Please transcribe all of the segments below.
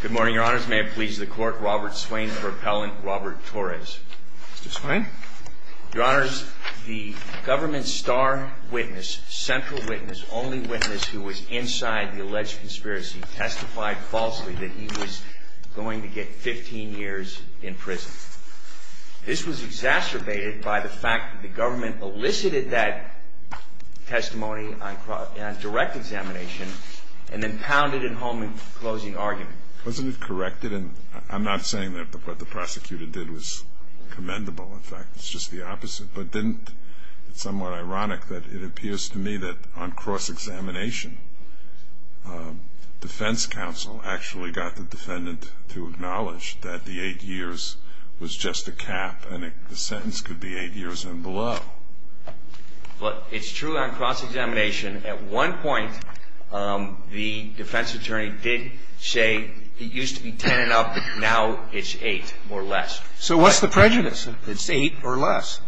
Good morning, Your Honors. May it please the Court, Robert Swain for Appellant Robert Torres. Mr. Swain. Your Honors, the government star witness, central witness, only witness who was inside the alleged conspiracy testified falsely that he was going to get 15 years in prison. This was exacerbated by the fact that the government elicited that testimony on direct examination and then pounded it home in closing argument. Wasn't it corrected? And I'm not saying that what the prosecutor did was commendable. In fact, it's just the opposite. But didn't it somewhat ironic that it appears to me that on cross-examination, defense counsel actually got the defendant to acknowledge that the eight years was just a cap and the sentence could be eight years and below. Well, it's true on cross-examination. At one point, the defense attorney did say it used to be ten and up. Now it's eight or less. So what's the prejudice? It's eight or less.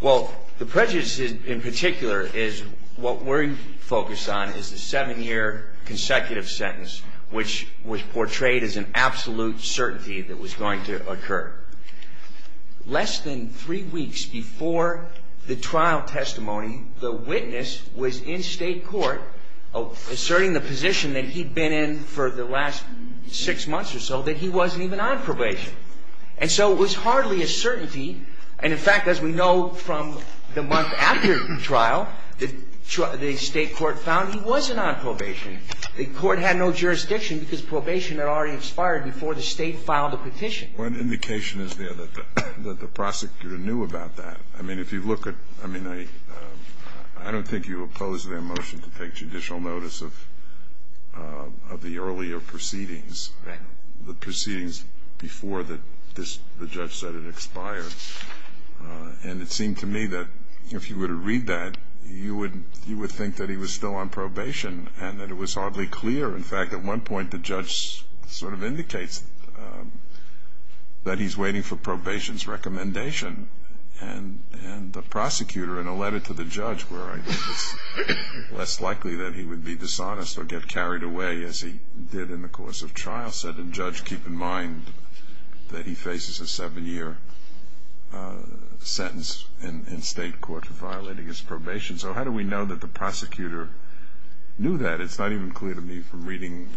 Well, the prejudice in particular is what we're focused on is the seven-year consecutive sentence, which was portrayed as an absolute certainty that was going to occur. Less than three weeks before the trial testimony, the witness was in State court asserting the position that he'd been in for the last six months or so that he wasn't even on probation. And so it was hardly a certainty. And, in fact, as we know from the month after the trial, the State court found he wasn't on probation. The court had no jurisdiction because probation had already expired before the State filed a petition. One indication is there that the prosecutor knew about that. I mean, if you look at – I mean, I don't think you oppose their motion to take judicial notice of the earlier proceedings, the proceedings before the judge said it expired. And it seemed to me that if you were to read that, you would think that he was still on probation and that it was hardly clear. In fact, at one point the judge sort of indicates that he's waiting for probation's recommendation. And the prosecutor, in a letter to the judge, where I think it's less likely that he would be dishonest or get carried away as he did in the course of trial, said, and judge, keep in mind that he faces a seven-year sentence in State court for violating his probation. So how do we know that the prosecutor knew that? It's not even clear to me from reading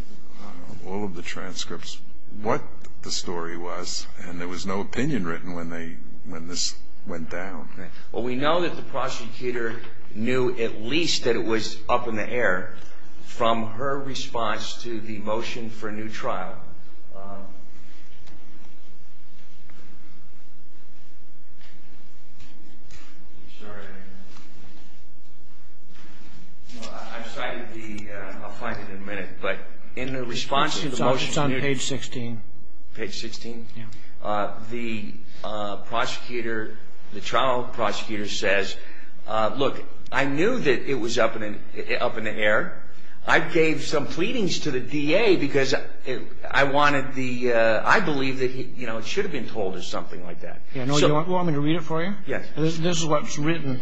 all of the transcripts what the story was, and there was no opinion written when this went down. Well, we know that the prosecutor knew at least that it was up in the air from her response to the motion for a new trial. I'm sorry. No, I've cited the ‑‑ I'll find it in a minute. But in the response to the motion ‑‑ It's on page 16. Page 16? Yeah. The prosecutor, the trial prosecutor says, look, I knew that it was up in the air. I wanted the ‑‑ I believe that, you know, it should have been told as something like that. You want me to read it for you? Yes. This is what's written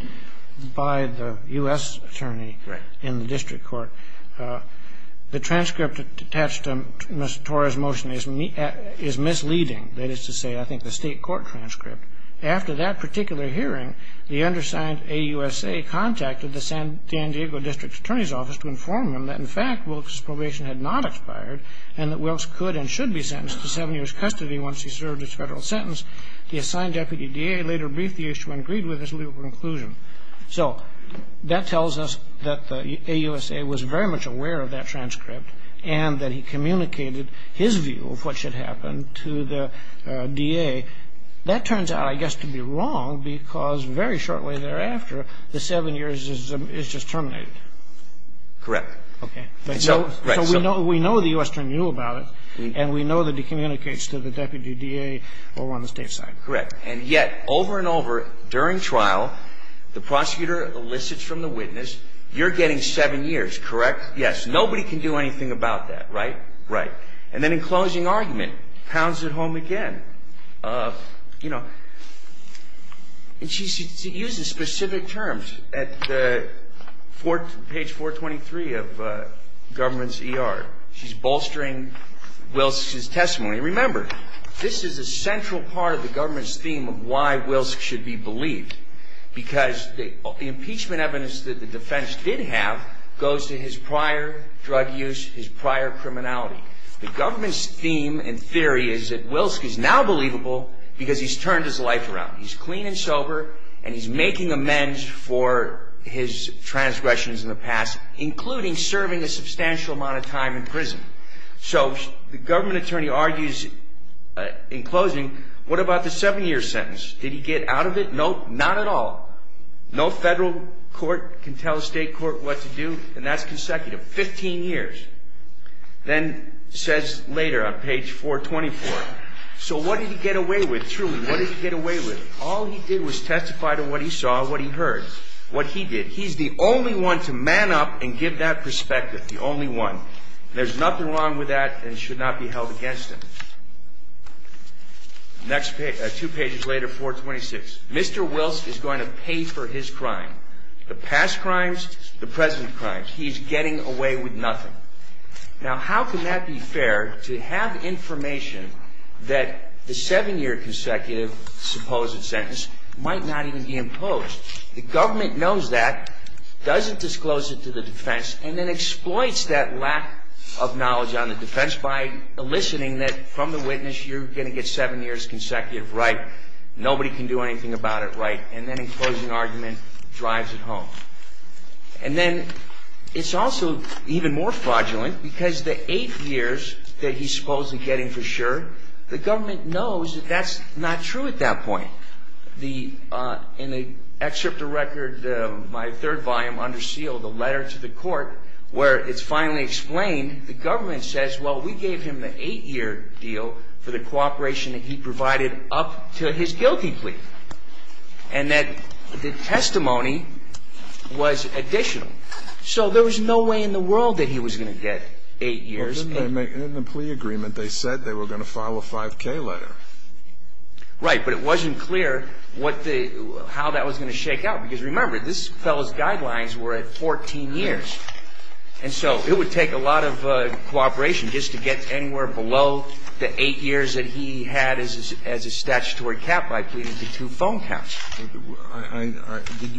by the U.S. attorney in the district court. The transcript attached to Ms. Torres' motion is misleading. That is to say, I think the State court transcript. After that particular hearing, the undersigned AUSA contacted the San Diego district attorney's office to inform them that, in fact, Wilkes' probation had not expired and that Wilkes could and should be sentenced to seven years' custody once he served his federal sentence. The assigned deputy DA later briefed the issue and agreed with his legal conclusion. So that tells us that the AUSA was very much aware of that transcript and that he communicated his view of what should happen to the DA. That turns out, I guess, to be wrong because very shortly thereafter, the seven years is just terminated. Correct. Okay. So we know the U.S. attorney knew about it, and we know that he communicates to the deputy DA over on the State side. Correct. And yet, over and over, during trial, the prosecutor elicits from the witness, you're getting seven years, correct? Yes. Nobody can do anything about that, right? Right. And then in closing argument, pounds it home again. And she uses specific terms. At page 423 of government's ER, she's bolstering Wilkes' testimony. Remember, this is a central part of the government's theme of why Wilkes should be believed because the impeachment evidence that the defense did have goes to his prior drug use, his prior criminality. The government's theme and theory is that Wilkes is now believable because he's turned his life around. He's clean and sober, and he's making amends for his transgressions in the past, including serving a substantial amount of time in prison. So the government attorney argues in closing, what about the seven-year sentence? Did he get out of it? Nope, not at all. No federal court can tell a state court what to do, and that's consecutive, 15 years. Then says later on page 424, so what did he get away with, truly? What did he get away with? All he did was testify to what he saw, what he heard, what he did. He's the only one to man up and give that perspective, the only one. There's nothing wrong with that and should not be held against him. Next page, two pages later, 426. Mr. Wilkes is going to pay for his crime, the past crimes, the present crimes. He's getting away with nothing. Now, how can that be fair to have information that the seven-year consecutive supposed sentence might not even be imposed? The government knows that, doesn't disclose it to the defense, and then exploits that lack of knowledge on the defense by eliciting that from the witness you're going to get seven years consecutive, right? Nobody can do anything about it, right? And then in closing argument, drives it home. And then it's also even more fraudulent because the eight years that he's supposedly getting for sure, the government knows that that's not true at that point. In the excerpt of record, my third volume, under seal, the letter to the court where it's finally explained, the government says, well, we gave him the eight-year deal for the cooperation that he provided up to his guilty plea. And that the testimony was additional. So there was no way in the world that he was going to get eight years. In the plea agreement, they said they were going to file a 5K letter. Right, but it wasn't clear how that was going to shake out because remember, this fellow's guidelines were at 14 years. And so it would take a lot of cooperation just to get anywhere below the eight years that he had as a statutory cap by pleading to two phone counts. Did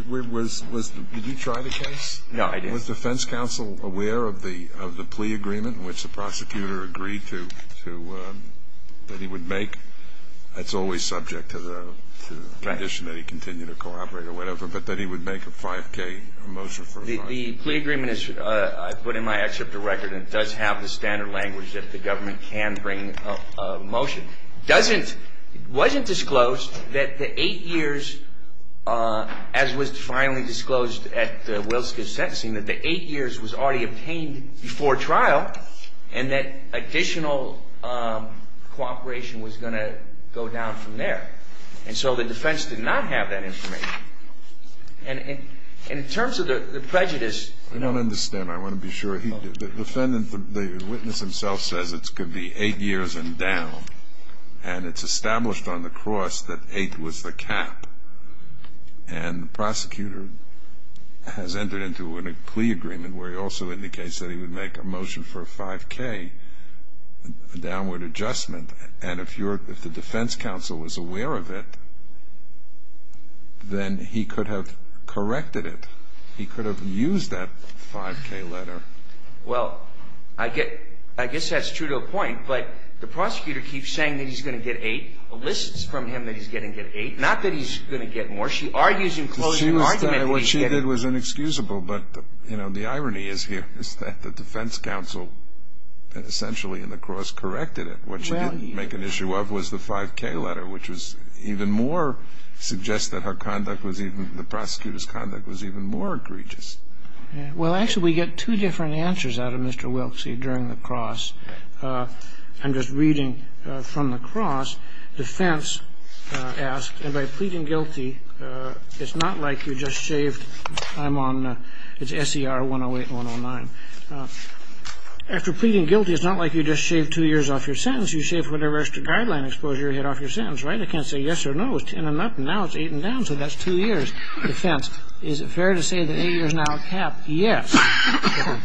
you try the case? No, I didn't. Was defense counsel aware of the plea agreement in which the prosecutor agreed to, that he would make? That's always subject to the condition that he continue to cooperate or whatever, but that he would make a 5K motion for a fine. The plea agreement is put in my excerpt of record and it does have the standard language that the government can bring a motion. It wasn't disclosed that the eight years, as was finally disclosed at the Wilson case sentencing, that the eight years was already obtained before trial and that additional cooperation was going to go down from there. And so the defense did not have that information. And in terms of the prejudice. I don't understand. I want to be sure. The witness himself says it could be eight years and down. And it's established on the cross that eight was the cap. And the prosecutor has entered into a plea agreement where he also indicates that he would make a motion for a 5K, a downward adjustment. And if the defense counsel was aware of it, then he could have corrected it. He could have used that 5K letter. Well, I guess that's true to a point. But the prosecutor keeps saying that he's going to get eight, lists from him that he's going to get eight. Not that he's going to get more. She argues in closing argument that he's going to get eight. What she did was inexcusable. But, you know, the irony is here is that the defense counsel essentially in the cross corrected it. What she didn't make an issue of was the 5K letter, which was even more suggests that her conduct was even, the prosecutor's conduct was even more egregious. Well, actually, we get two different answers out of Mr. Wilksey during the cross. I'm just reading from the cross. Defense asked, and by pleading guilty, it's not like you just shaved, I'm on, it's SER 108 and 109. After pleading guilty, it's not like you just shaved two years off your sentence. You shave whatever extra guideline exposure you had off your sentence, right? I can't say yes or no, it's 10 and up and now it's eight and down, so that's two years. Defense, is it fair to say that eight years now are capped? Yes.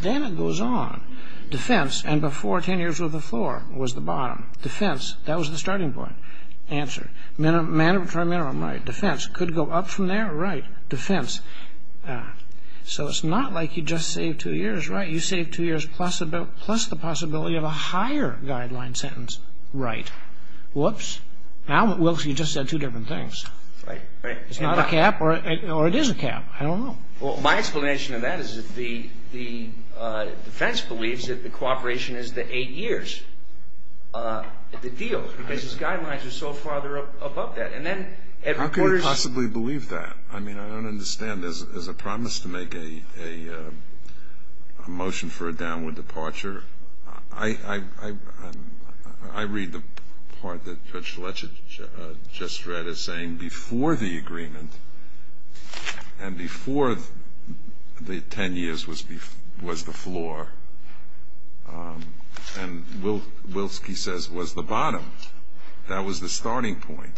Then it goes on. Defense, and before 10 years with a floor was the bottom. Defense, that was the starting point. Answer, mandatory minimum, right. Defense, could go up from there, right. Defense, so it's not like you just saved two years, right. You saved two years plus the possibility of a higher guideline sentence, right. Whoops. Now, Wilksey, you just said two different things. Right, right. It's not a cap or it is a cap. I don't know. Well, my explanation of that is that the defense believes that the cooperation is the eight years, the deal, because his guidelines are so far above that. How could you possibly believe that? I mean, I don't understand. There's a promise to make a motion for a downward departure. I read the part that Judge Lech just read as saying before the agreement and before the 10 years was the floor, and Wilksey says was the bottom. That was the starting point.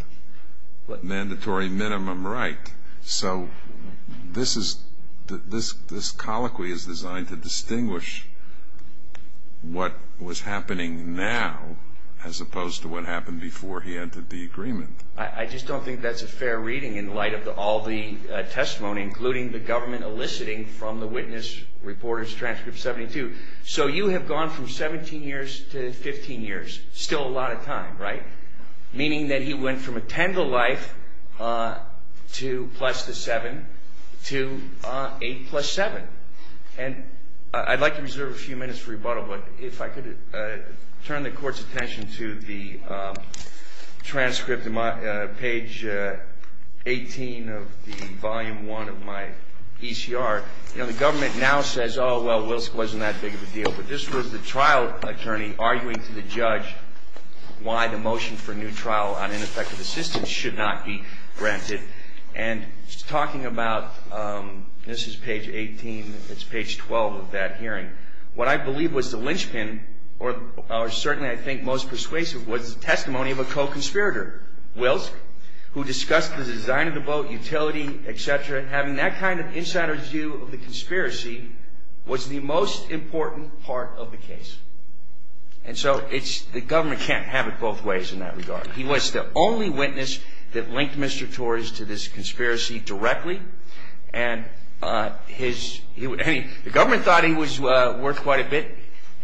Mandatory minimum, right. So this colloquy is designed to distinguish what was happening now as opposed to what happened before he entered the agreement. I just don't think that's a fair reading in light of all the testimony, including the government eliciting from the witness reporter's transcript 72. So you have gone from 17 years to 15 years, still a lot of time, right, meaning that he went from a 10 to life to plus the 7 to 8 plus 7. And I'd like to reserve a few minutes for rebuttal, but if I could turn the Court's attention to the transcript on page 18 of the volume 1 of my ECR. You know, the government now says, oh, well, Wilksey wasn't that big of a deal, but this was the trial attorney arguing to the judge why the motion for new trial on ineffective assistance should not be granted. And he's talking about, this is page 18, it's page 12 of that hearing. What I believe was the linchpin, or certainly I think most persuasive, was the testimony of a co-conspirator, Wilk, who discussed the design of the boat, utility, et cetera, and having that kind of insider's view of the conspiracy was the most important part of the case. And so the government can't have it both ways in that regard. He was the only witness that linked Mr. Torres to this conspiracy directly, and the government thought he was worth quite a bit.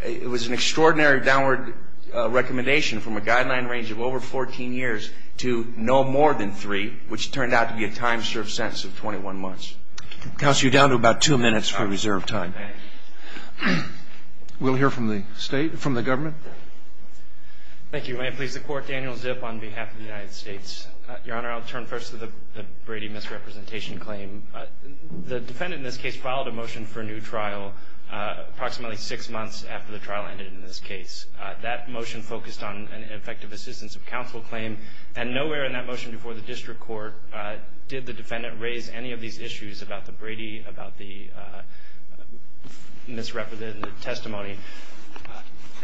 It was an extraordinary downward recommendation from a guideline range of over 14 years to no more than three, which turned out to be a time-served sentence of 21 months. Counsel, you're down to about two minutes for reserved time. We'll hear from the state, from the government. Thank you. May it please the Court, Daniel Zip on behalf of the United States. Your Honor, I'll turn first to the Brady misrepresentation claim. The defendant in this case filed a motion for a new trial approximately six months after the trial ended in this case. That motion focused on an effective assistance of counsel claim, and nowhere in that motion before the district court did the defendant raise any of these issues about the Brady, about the misrepresented testimony.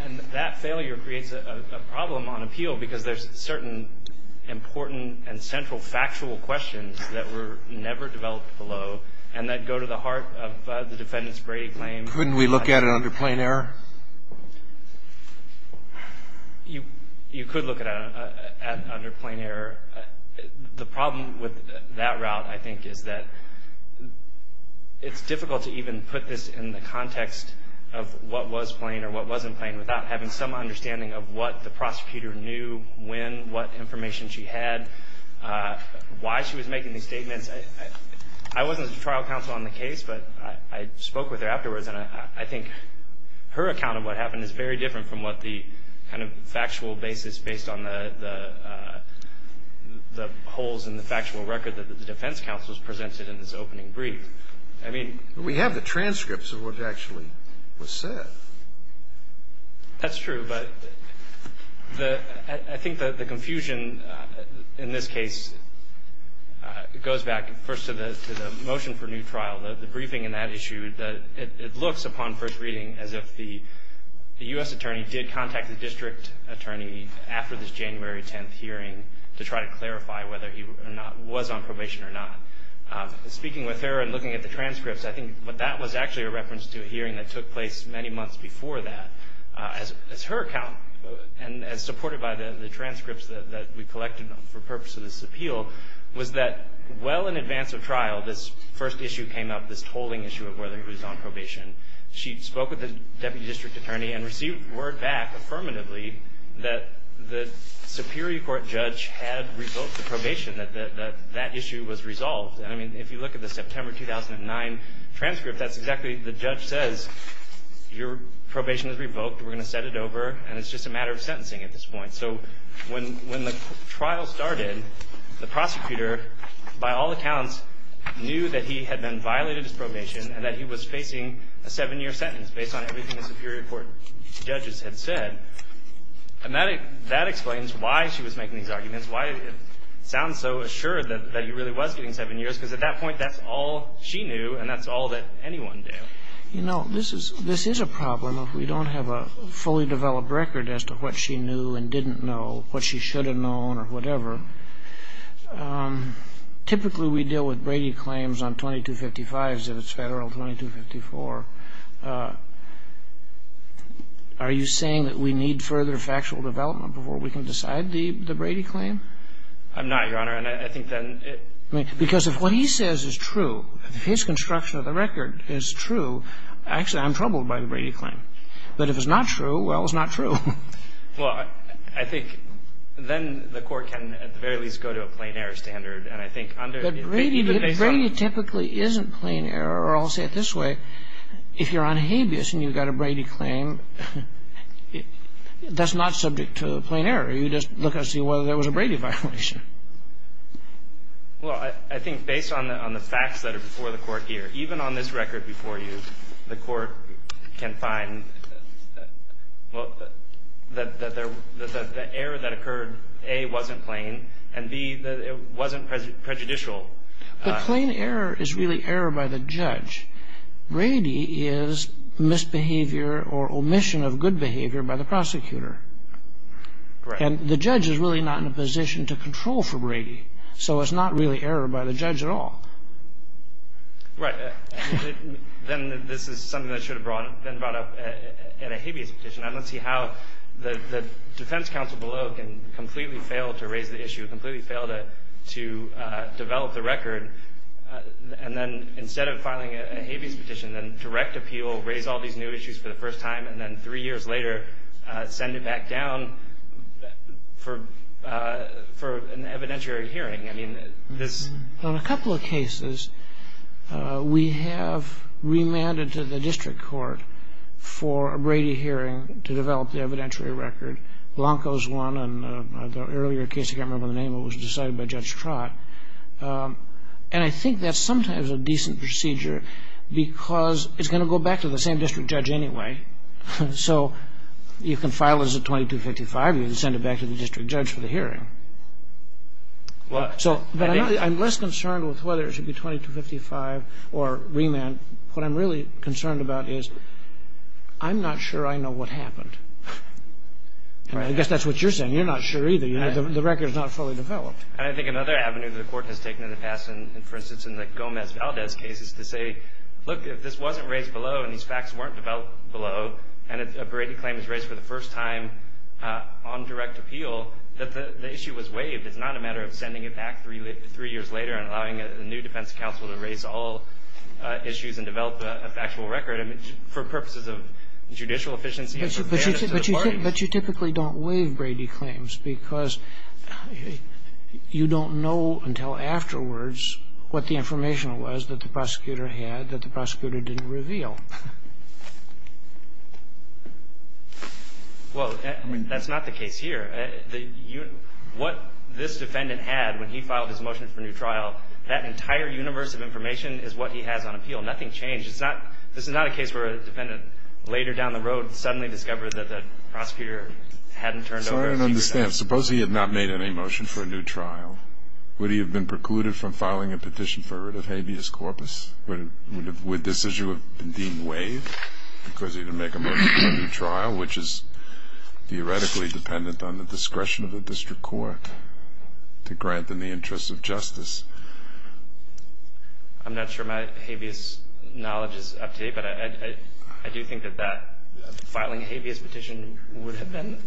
And that failure creates a problem on appeal because there's certain important and central factual questions that were never developed below and that go to the heart of the defendant's Brady claim. Couldn't we look at it under plain error? You could look at it under plain error. The problem with that route, I think, is that it's difficult to even put this in the context of what was plain or what wasn't plain without having some understanding of what the prosecutor knew when, what information she had, why she was making these statements. I wasn't the trial counsel on the case, but I spoke with her afterwards, and I think her account of what happened is very different from what the kind of factual basis based on the holes in the factual record that the defense counsel has presented in this opening brief. I mean we have the transcripts of what actually was said. That's true, but I think the confusion in this case goes back first to the motion for new trial. The briefing in that issue, it looks upon first reading as if the U.S. attorney did contact the district attorney after this January 10th hearing to try to clarify whether he was on probation or not. Speaking with her and looking at the transcripts, I think that was actually a reference to a hearing that took place many months before that. As her account, and as supported by the transcripts that we collected for purpose of this appeal, was that well in advance of trial, this first issue came up, this tolling issue of whether he was on probation. She spoke with the deputy district attorney and received word back affirmatively that the Superior Court judge had revoked the probation, that that issue was resolved. And I mean if you look at the September 2009 transcript, that's exactly the judge says your probation is revoked, we're going to set it over, and it's just a matter of sentencing at this point. So when the trial started, the prosecutor, by all accounts, knew that he had been violated his probation and that he was facing a seven-year sentence based on everything the Superior Court judges had said. And that explains why she was making these arguments, why it sounds so assured that he really was getting seven years, because at that point that's all she knew and that's all that anyone knew. You know, this is a problem if we don't have a fully developed record as to what she knew and didn't know, what she should have known or whatever. Typically we deal with Brady claims on 2255s if it's Federal, 2254. Are you saying that we need further factual development before we can decide the Brady claim? I'm not, Your Honor. And I think that it — Because if what he says is true, if his construction of the record is true, actually I'm troubled by the Brady claim. But if it's not true, well, it's not true. Well, I think then the Court can at the very least go to a plain error standard. And I think under — But Brady typically isn't plain error. Or I'll say it this way. If you're on habeas and you've got a Brady claim, that's not subject to a plain error. You just look and see whether there was a Brady violation. Well, I think based on the facts that are before the Court here, even on this record before you, the Court can find that the error that occurred, A, wasn't plain, and B, that it wasn't prejudicial. But plain error is really error by the judge. Brady is misbehavior or omission of good behavior by the prosecutor. Right. And the judge is really not in a position to control for Brady. So it's not really error by the judge at all. Right. Then this is something that should have been brought up at a habeas petition. I don't see how the defense counsel below can completely fail to raise the issue, completely fail to develop the record, and then instead of filing a habeas petition, then direct appeal, raise all these new issues for the first time, and then three years later send it back down for an evidentiary hearing. I mean, this — Well, in a couple of cases, we have remanded to the district court for a Brady hearing to develop the evidentiary record. Blanco's one, and the earlier case, I can't remember the name of it, was decided by Judge Trott. And I think that's sometimes a decent procedure because it's going to go back to the same district judge anyway. So you can file as a 2255. You can send it back to the district judge for the hearing. But I'm less concerned with whether it should be 2255 or remand. What I'm really concerned about is I'm not sure I know what happened. And I guess that's what you're saying. You're not sure either. The record is not fully developed. And I think another avenue the Court has taken in the past, for instance, in the Gomez-Valdez case, is to say, look, if this wasn't raised below and these facts weren't developed below and a Brady claim is raised for the first time on direct appeal, that the issue was waived. It's not a matter of sending it back three years later and allowing a new defense counsel to raise all issues and develop the actual record. I mean, for purposes of judicial efficiency and for fairness to the parties. But you typically don't waive Brady claims because you don't know until afterwards what the information was that the prosecutor had that the prosecutor didn't reveal. Well, that's not the case here. What this defendant had when he filed his motion for new trial, that entire universe of information is what he has on appeal. Nothing changed. It's not this is not a case where a defendant later down the road suddenly discovered that the prosecutor hadn't turned over. So I don't understand. Suppose he had not made any motion for a new trial. Would he have been precluded from filing a petition for rid of habeas corpus? Would this issue have been deemed waived because he didn't make a motion for a new trial, which is theoretically dependent on the discretion of the district court to grant in the interest of justice? I'm not sure my habeas knowledge is up to date. But I do think that filing a habeas petition would have been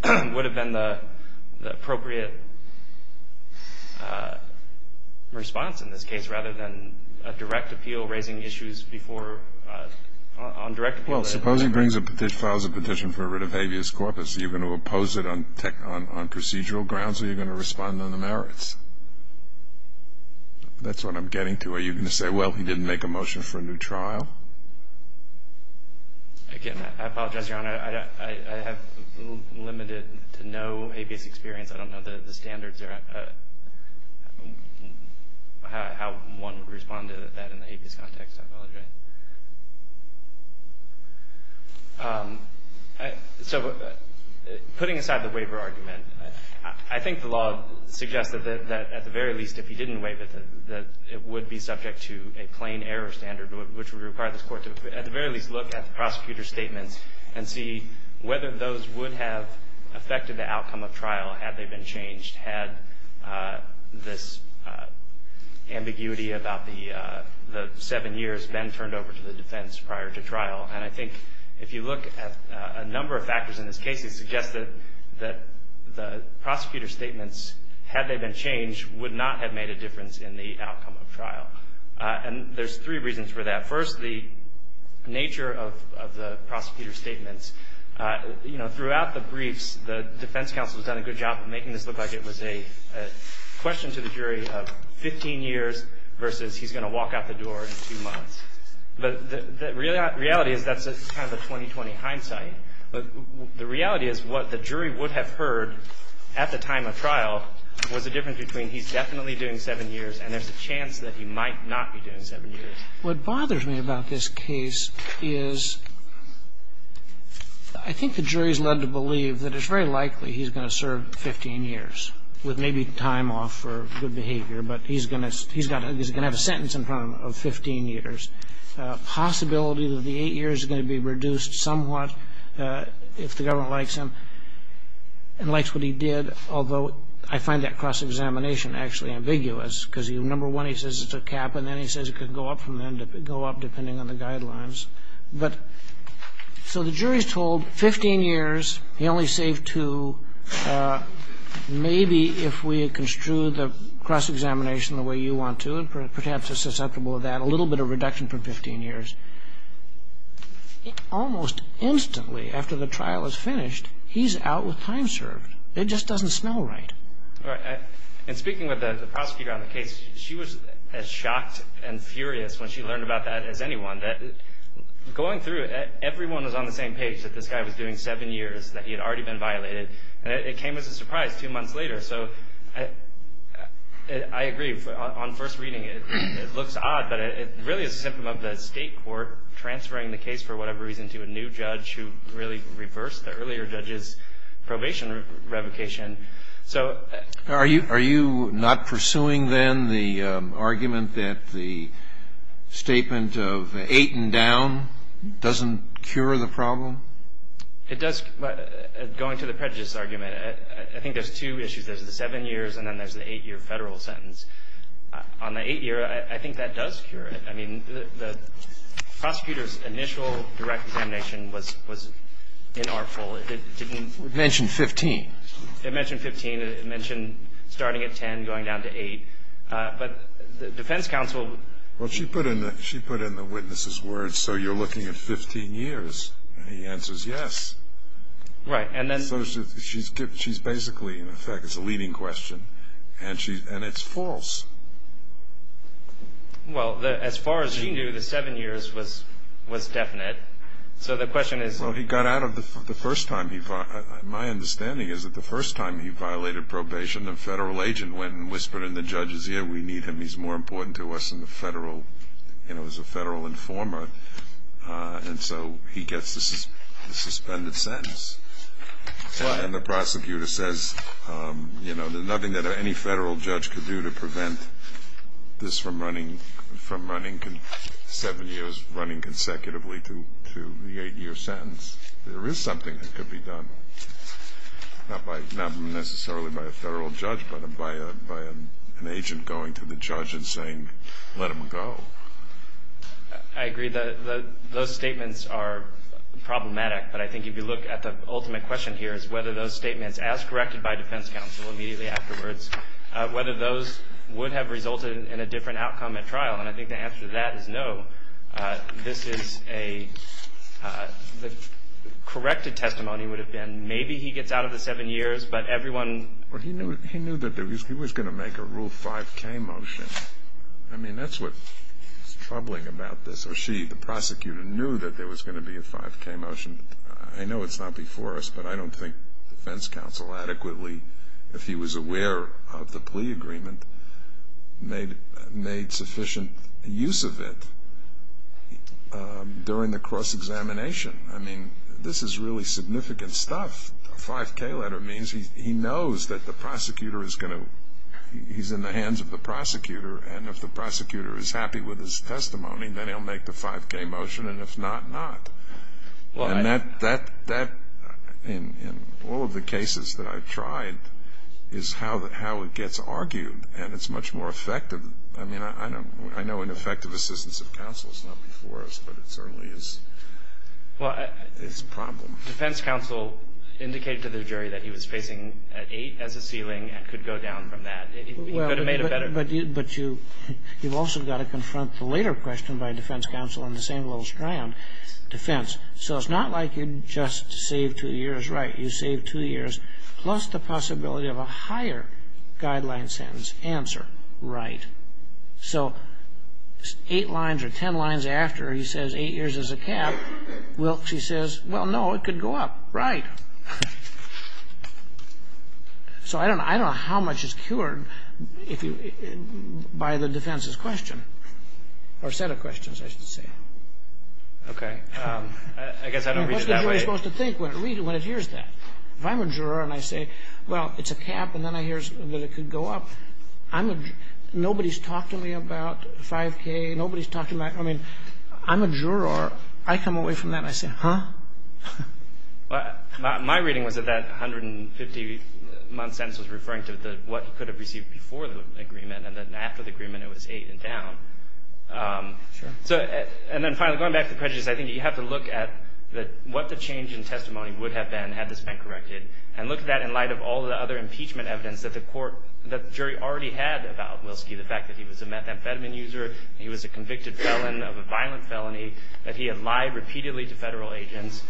the appropriate response in this case rather than a direct appeal raising issues on direct appeal. Well, suppose he files a petition for rid of habeas corpus. Are you going to oppose it on procedural grounds or are you going to respond on the merits? That's what I'm getting to. Are you going to say, well, he didn't make a motion for a new trial? Again, I apologize, Your Honor. I have limited to no habeas experience. I don't know the standards or how one would respond to that in the habeas context. I apologize. So putting aside the waiver argument, I think the law suggests that at the very least, if he didn't waive it, that it would be subject to a plain error standard, which would require this court to at the very least look at the prosecutor's statements and see whether those would have affected the outcome of trial had they been changed, had this ambiguity about the seven years been turned over to the defense prior to trial. And I think if you look at a number of factors in this case, it suggests that the prosecutor's statements, had they been changed, would not have made a difference in the outcome of trial. And there's three reasons for that. First, the nature of the prosecutor's statements. You know, throughout the briefs, the defense counsel has done a good job of making this look like it was a question to the jury of 15 years versus he's going to walk out the door in two months. But the reality is that's kind of a 20-20 hindsight. The reality is what the jury would have heard at the time of trial was a difference between he's definitely doing seven years and there's a chance that he might not be doing seven years. What bothers me about this case is I think the jury's led to believe that it's very likely he's going to serve 15 years with maybe time off for good behavior, but he's going to have a sentence in front of him of 15 years. Possibility that the eight years is going to be reduced somewhat if the government likes him and likes what he did, although I find that cross-examination actually ambiguous because, number one, he says it's a cap and then he says it can go up from then, go up depending on the guidelines. But so the jury's told 15 years, he only saved two, maybe if we had construed the cross-examination the way you want to and perhaps are susceptible to that, a little bit of reduction for 15 years. Almost instantly after the trial is finished, he's out with time served. It just doesn't smell right. All right. In speaking with the prosecutor on the case, she was as shocked and furious when she learned about that as anyone. Going through it, everyone was on the same page that this guy was doing seven years, that he had already been violated, and it came as a surprise two months later. So I agree. On first reading, it looks odd, but it really is a symptom of the state court transferring the case for whatever reason to a new judge who really reversed the earlier judge's probation revocation. So Are you not pursuing then the argument that the statement of eight and down doesn't cure the problem? It does. Going to the prejudice argument, I think there's two issues. There's the seven years and then there's the eight-year Federal sentence. On the eight-year, I think that does cure it. I mean, the prosecutor's initial direct examination was inartful. It didn't Mention 15. It mentioned 15. It mentioned starting at 10, going down to 8. But the defense counsel Well, she put in the witness's words, so you're looking at 15 years. He answers yes. Right. So she's basically, in effect, it's a leading question, and it's false. Well, as far as she knew, the seven years was definite. So the question is Well, he got out of the first time he My understanding is that the first time he violated probation, a Federal agent went and whispered in the judge's ear, We need him. He's more important to us than the Federal You know, as a Federal informer. And so he gets the suspended sentence. And the prosecutor says, you know, there's nothing that any Federal judge could do to prevent this from running seven years, running consecutively to the eight-year sentence. There is something that could be done. Not necessarily by a Federal judge, but by an agent going to the judge and saying, let him go. I agree. Those statements are problematic. But I think if you look at the ultimate question here is whether those statements, as corrected by defense counsel immediately afterwards, whether those would have resulted in a different outcome at trial. And I think the answer to that is no. This is a, the corrected testimony would have been maybe he gets out of the seven years, but everyone Well, he knew that he was going to make a Rule 5k motion. I mean, that's what's troubling about this. Or she, the prosecutor, knew that there was going to be a 5k motion. I know it's not before us, but I don't think defense counsel adequately, if he was aware of the plea agreement, made sufficient use of it during the cross-examination. I mean, this is really significant stuff. A 5k letter means he knows that the prosecutor is going to, he's in the hands of the prosecutor. And if the prosecutor is happy with his testimony, then he'll make the 5k motion. And if not, not. And that, in all of the cases that I've tried, is how it gets argued. And it's much more effective. I mean, I know ineffective assistance of counsel is not before us, but it certainly is a problem. Defense counsel indicated to the jury that he was facing an 8 as a ceiling and could go down from that. He could have made a better decision. But you've also got to confront the later question by defense counsel on the same little strand. Defense. So it's not like you just save two years. Right. You save two years plus the possibility of a higher guideline sentence. Answer. Right. So eight lines or ten lines after, he says, eight years is a cap. Well, she says, well, no, it could go up. Right. So I don't know how much is cured by the defense's question or set of questions, I should say. Okay. I guess I don't read it that way. What's the jury supposed to think when it hears that? If I'm a juror and I say, well, it's a cap, and then I hear that it could go up, nobody's talked to me about 5K. Nobody's talked to me. I mean, I'm a juror. I come away from that and I say, huh? My reading was that that 150-month sentence was referring to what he could have received before the agreement and then after the agreement it was 8 and down. Sure. And then finally, going back to prejudice, I think you have to look at what the change in testimony would have been had this been corrected and look at that in light of all the other impeachment evidence that the jury already had about Wilski, the fact that he was a methamphetamine user, he was a convicted felon of a violent felony, that he had lied repeatedly to federal agents.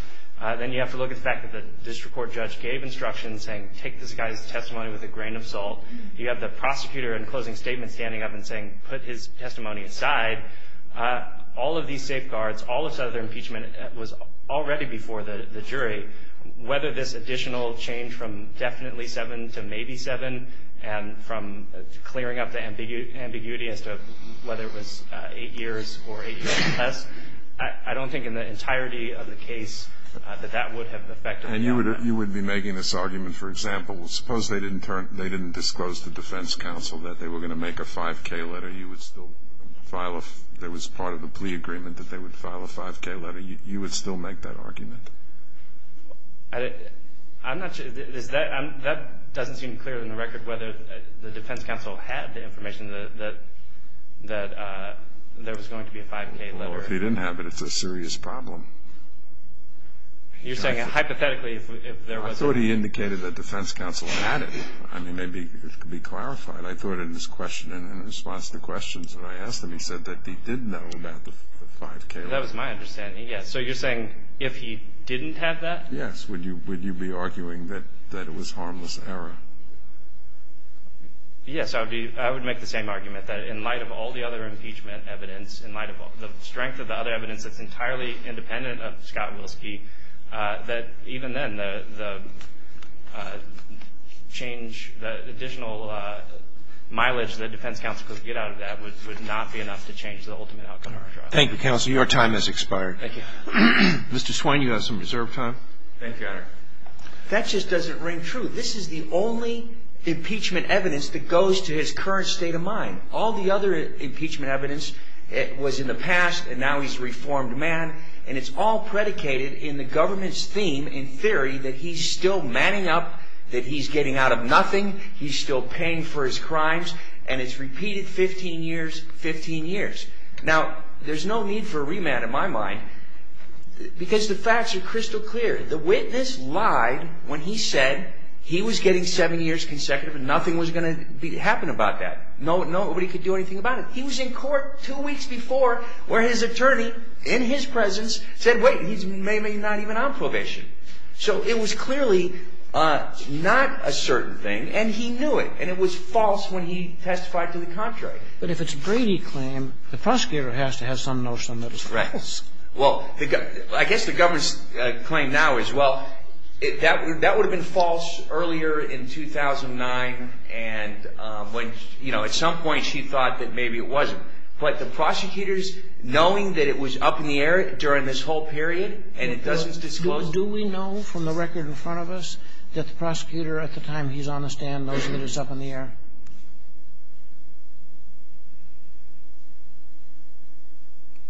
Then you have to look at the fact that the district court judge gave instructions saying take this guy's testimony with a grain of salt. You have the prosecutor in closing statement standing up and saying put his testimony aside. All of these safeguards, all of this other impeachment was already before the jury. Whether this additional change from definitely 7 to maybe 7 and from clearing up the ambiguity as to whether it was 8 years or 8 years or less, I don't think in the entirety of the case that that would have affected the outcome. And you would be making this argument, for example, suppose they didn't disclose to defense counsel that they were going to make a 5K letter, you would still file a, there was part of the plea agreement that they would file a 5K letter, you would still make that argument? I'm not sure. That doesn't seem clearer than the record whether the defense counsel had the information that there was going to be a 5K letter. Well, if he didn't have it, it's a serious problem. You're saying hypothetically if there was. I thought he indicated that defense counsel had it. I mean, maybe it could be clarified. I thought in response to questions when I asked him, he said that he did know about the 5K letter. That was my understanding, yes. So you're saying if he didn't have that? Yes. Would you be arguing that it was harmless error? Yes, I would make the same argument, that in light of all the other impeachment evidence, in light of the strength of the other evidence that's entirely independent of Scott Wilski, that even then, the change, the additional mileage that defense counsel could get out of that would not be enough to change the ultimate outcome of our trial. Thank you, counsel. Your time has expired. Thank you. Mr. Swain, you have some reserved time. Thank you, Your Honor. That just doesn't ring true. This is the only impeachment evidence that goes to his current state of mind. All the other impeachment evidence was in the past, and now he's a reformed man, and it's all predicated in the government's theme, in theory, that he's still manning up, that he's getting out of nothing, he's still paying for his crimes, and it's repeated 15 years, 15 years. Now, there's no need for a remand in my mind, because the facts are crystal clear. The witness lied when he said he was getting seven years consecutive, and nothing was going to happen about that. Nobody could do anything about it. He was in court two weeks before where his attorney, in his presence, said, wait, he's maybe not even on probation. So it was clearly not a certain thing, and he knew it, and it was false when he testified to the contrary. But if it's a Brady claim, the prosecutor has to have some notion that it's false. Right. Well, I guess the government's claim now is, well, that would have been false earlier in 2009, and at some point she thought that maybe it wasn't. But the prosecutors, knowing that it was up in the air during this whole period, and it doesn't disclose anything. Do we know from the record in front of us that the prosecutor, at the time he's on the stand, knows that it was up in the air?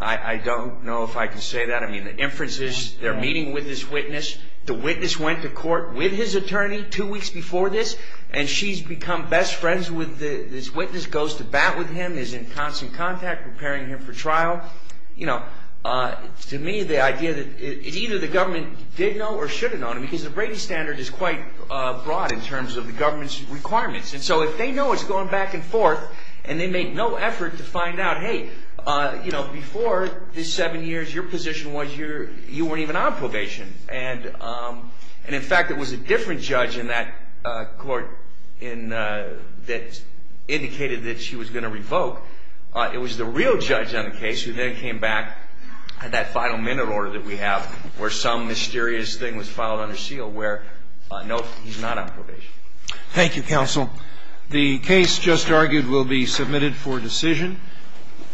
I don't know if I can say that. I mean, the inferences, they're meeting with this witness. The witness went to court with his attorney two weeks before this, and she's become best friends with this witness, goes to bat with him, is in constant contact, preparing him for trial. To me, the idea that either the government did know or should have known, because the Brady standard is quite broad in terms of the government's requirements. And so if they know it's going back and forth, and they make no effort to find out, hey, before this seven years, your position was you weren't even on probation, and, in fact, it was a different judge in that court that indicated that she was going to revoke. It was the real judge on the case who then came back, had that final minute order that we have where some mysterious thing was filed under seal, where, no, he's not on probation. Thank you, counsel. The case just argued will be submitted for decision.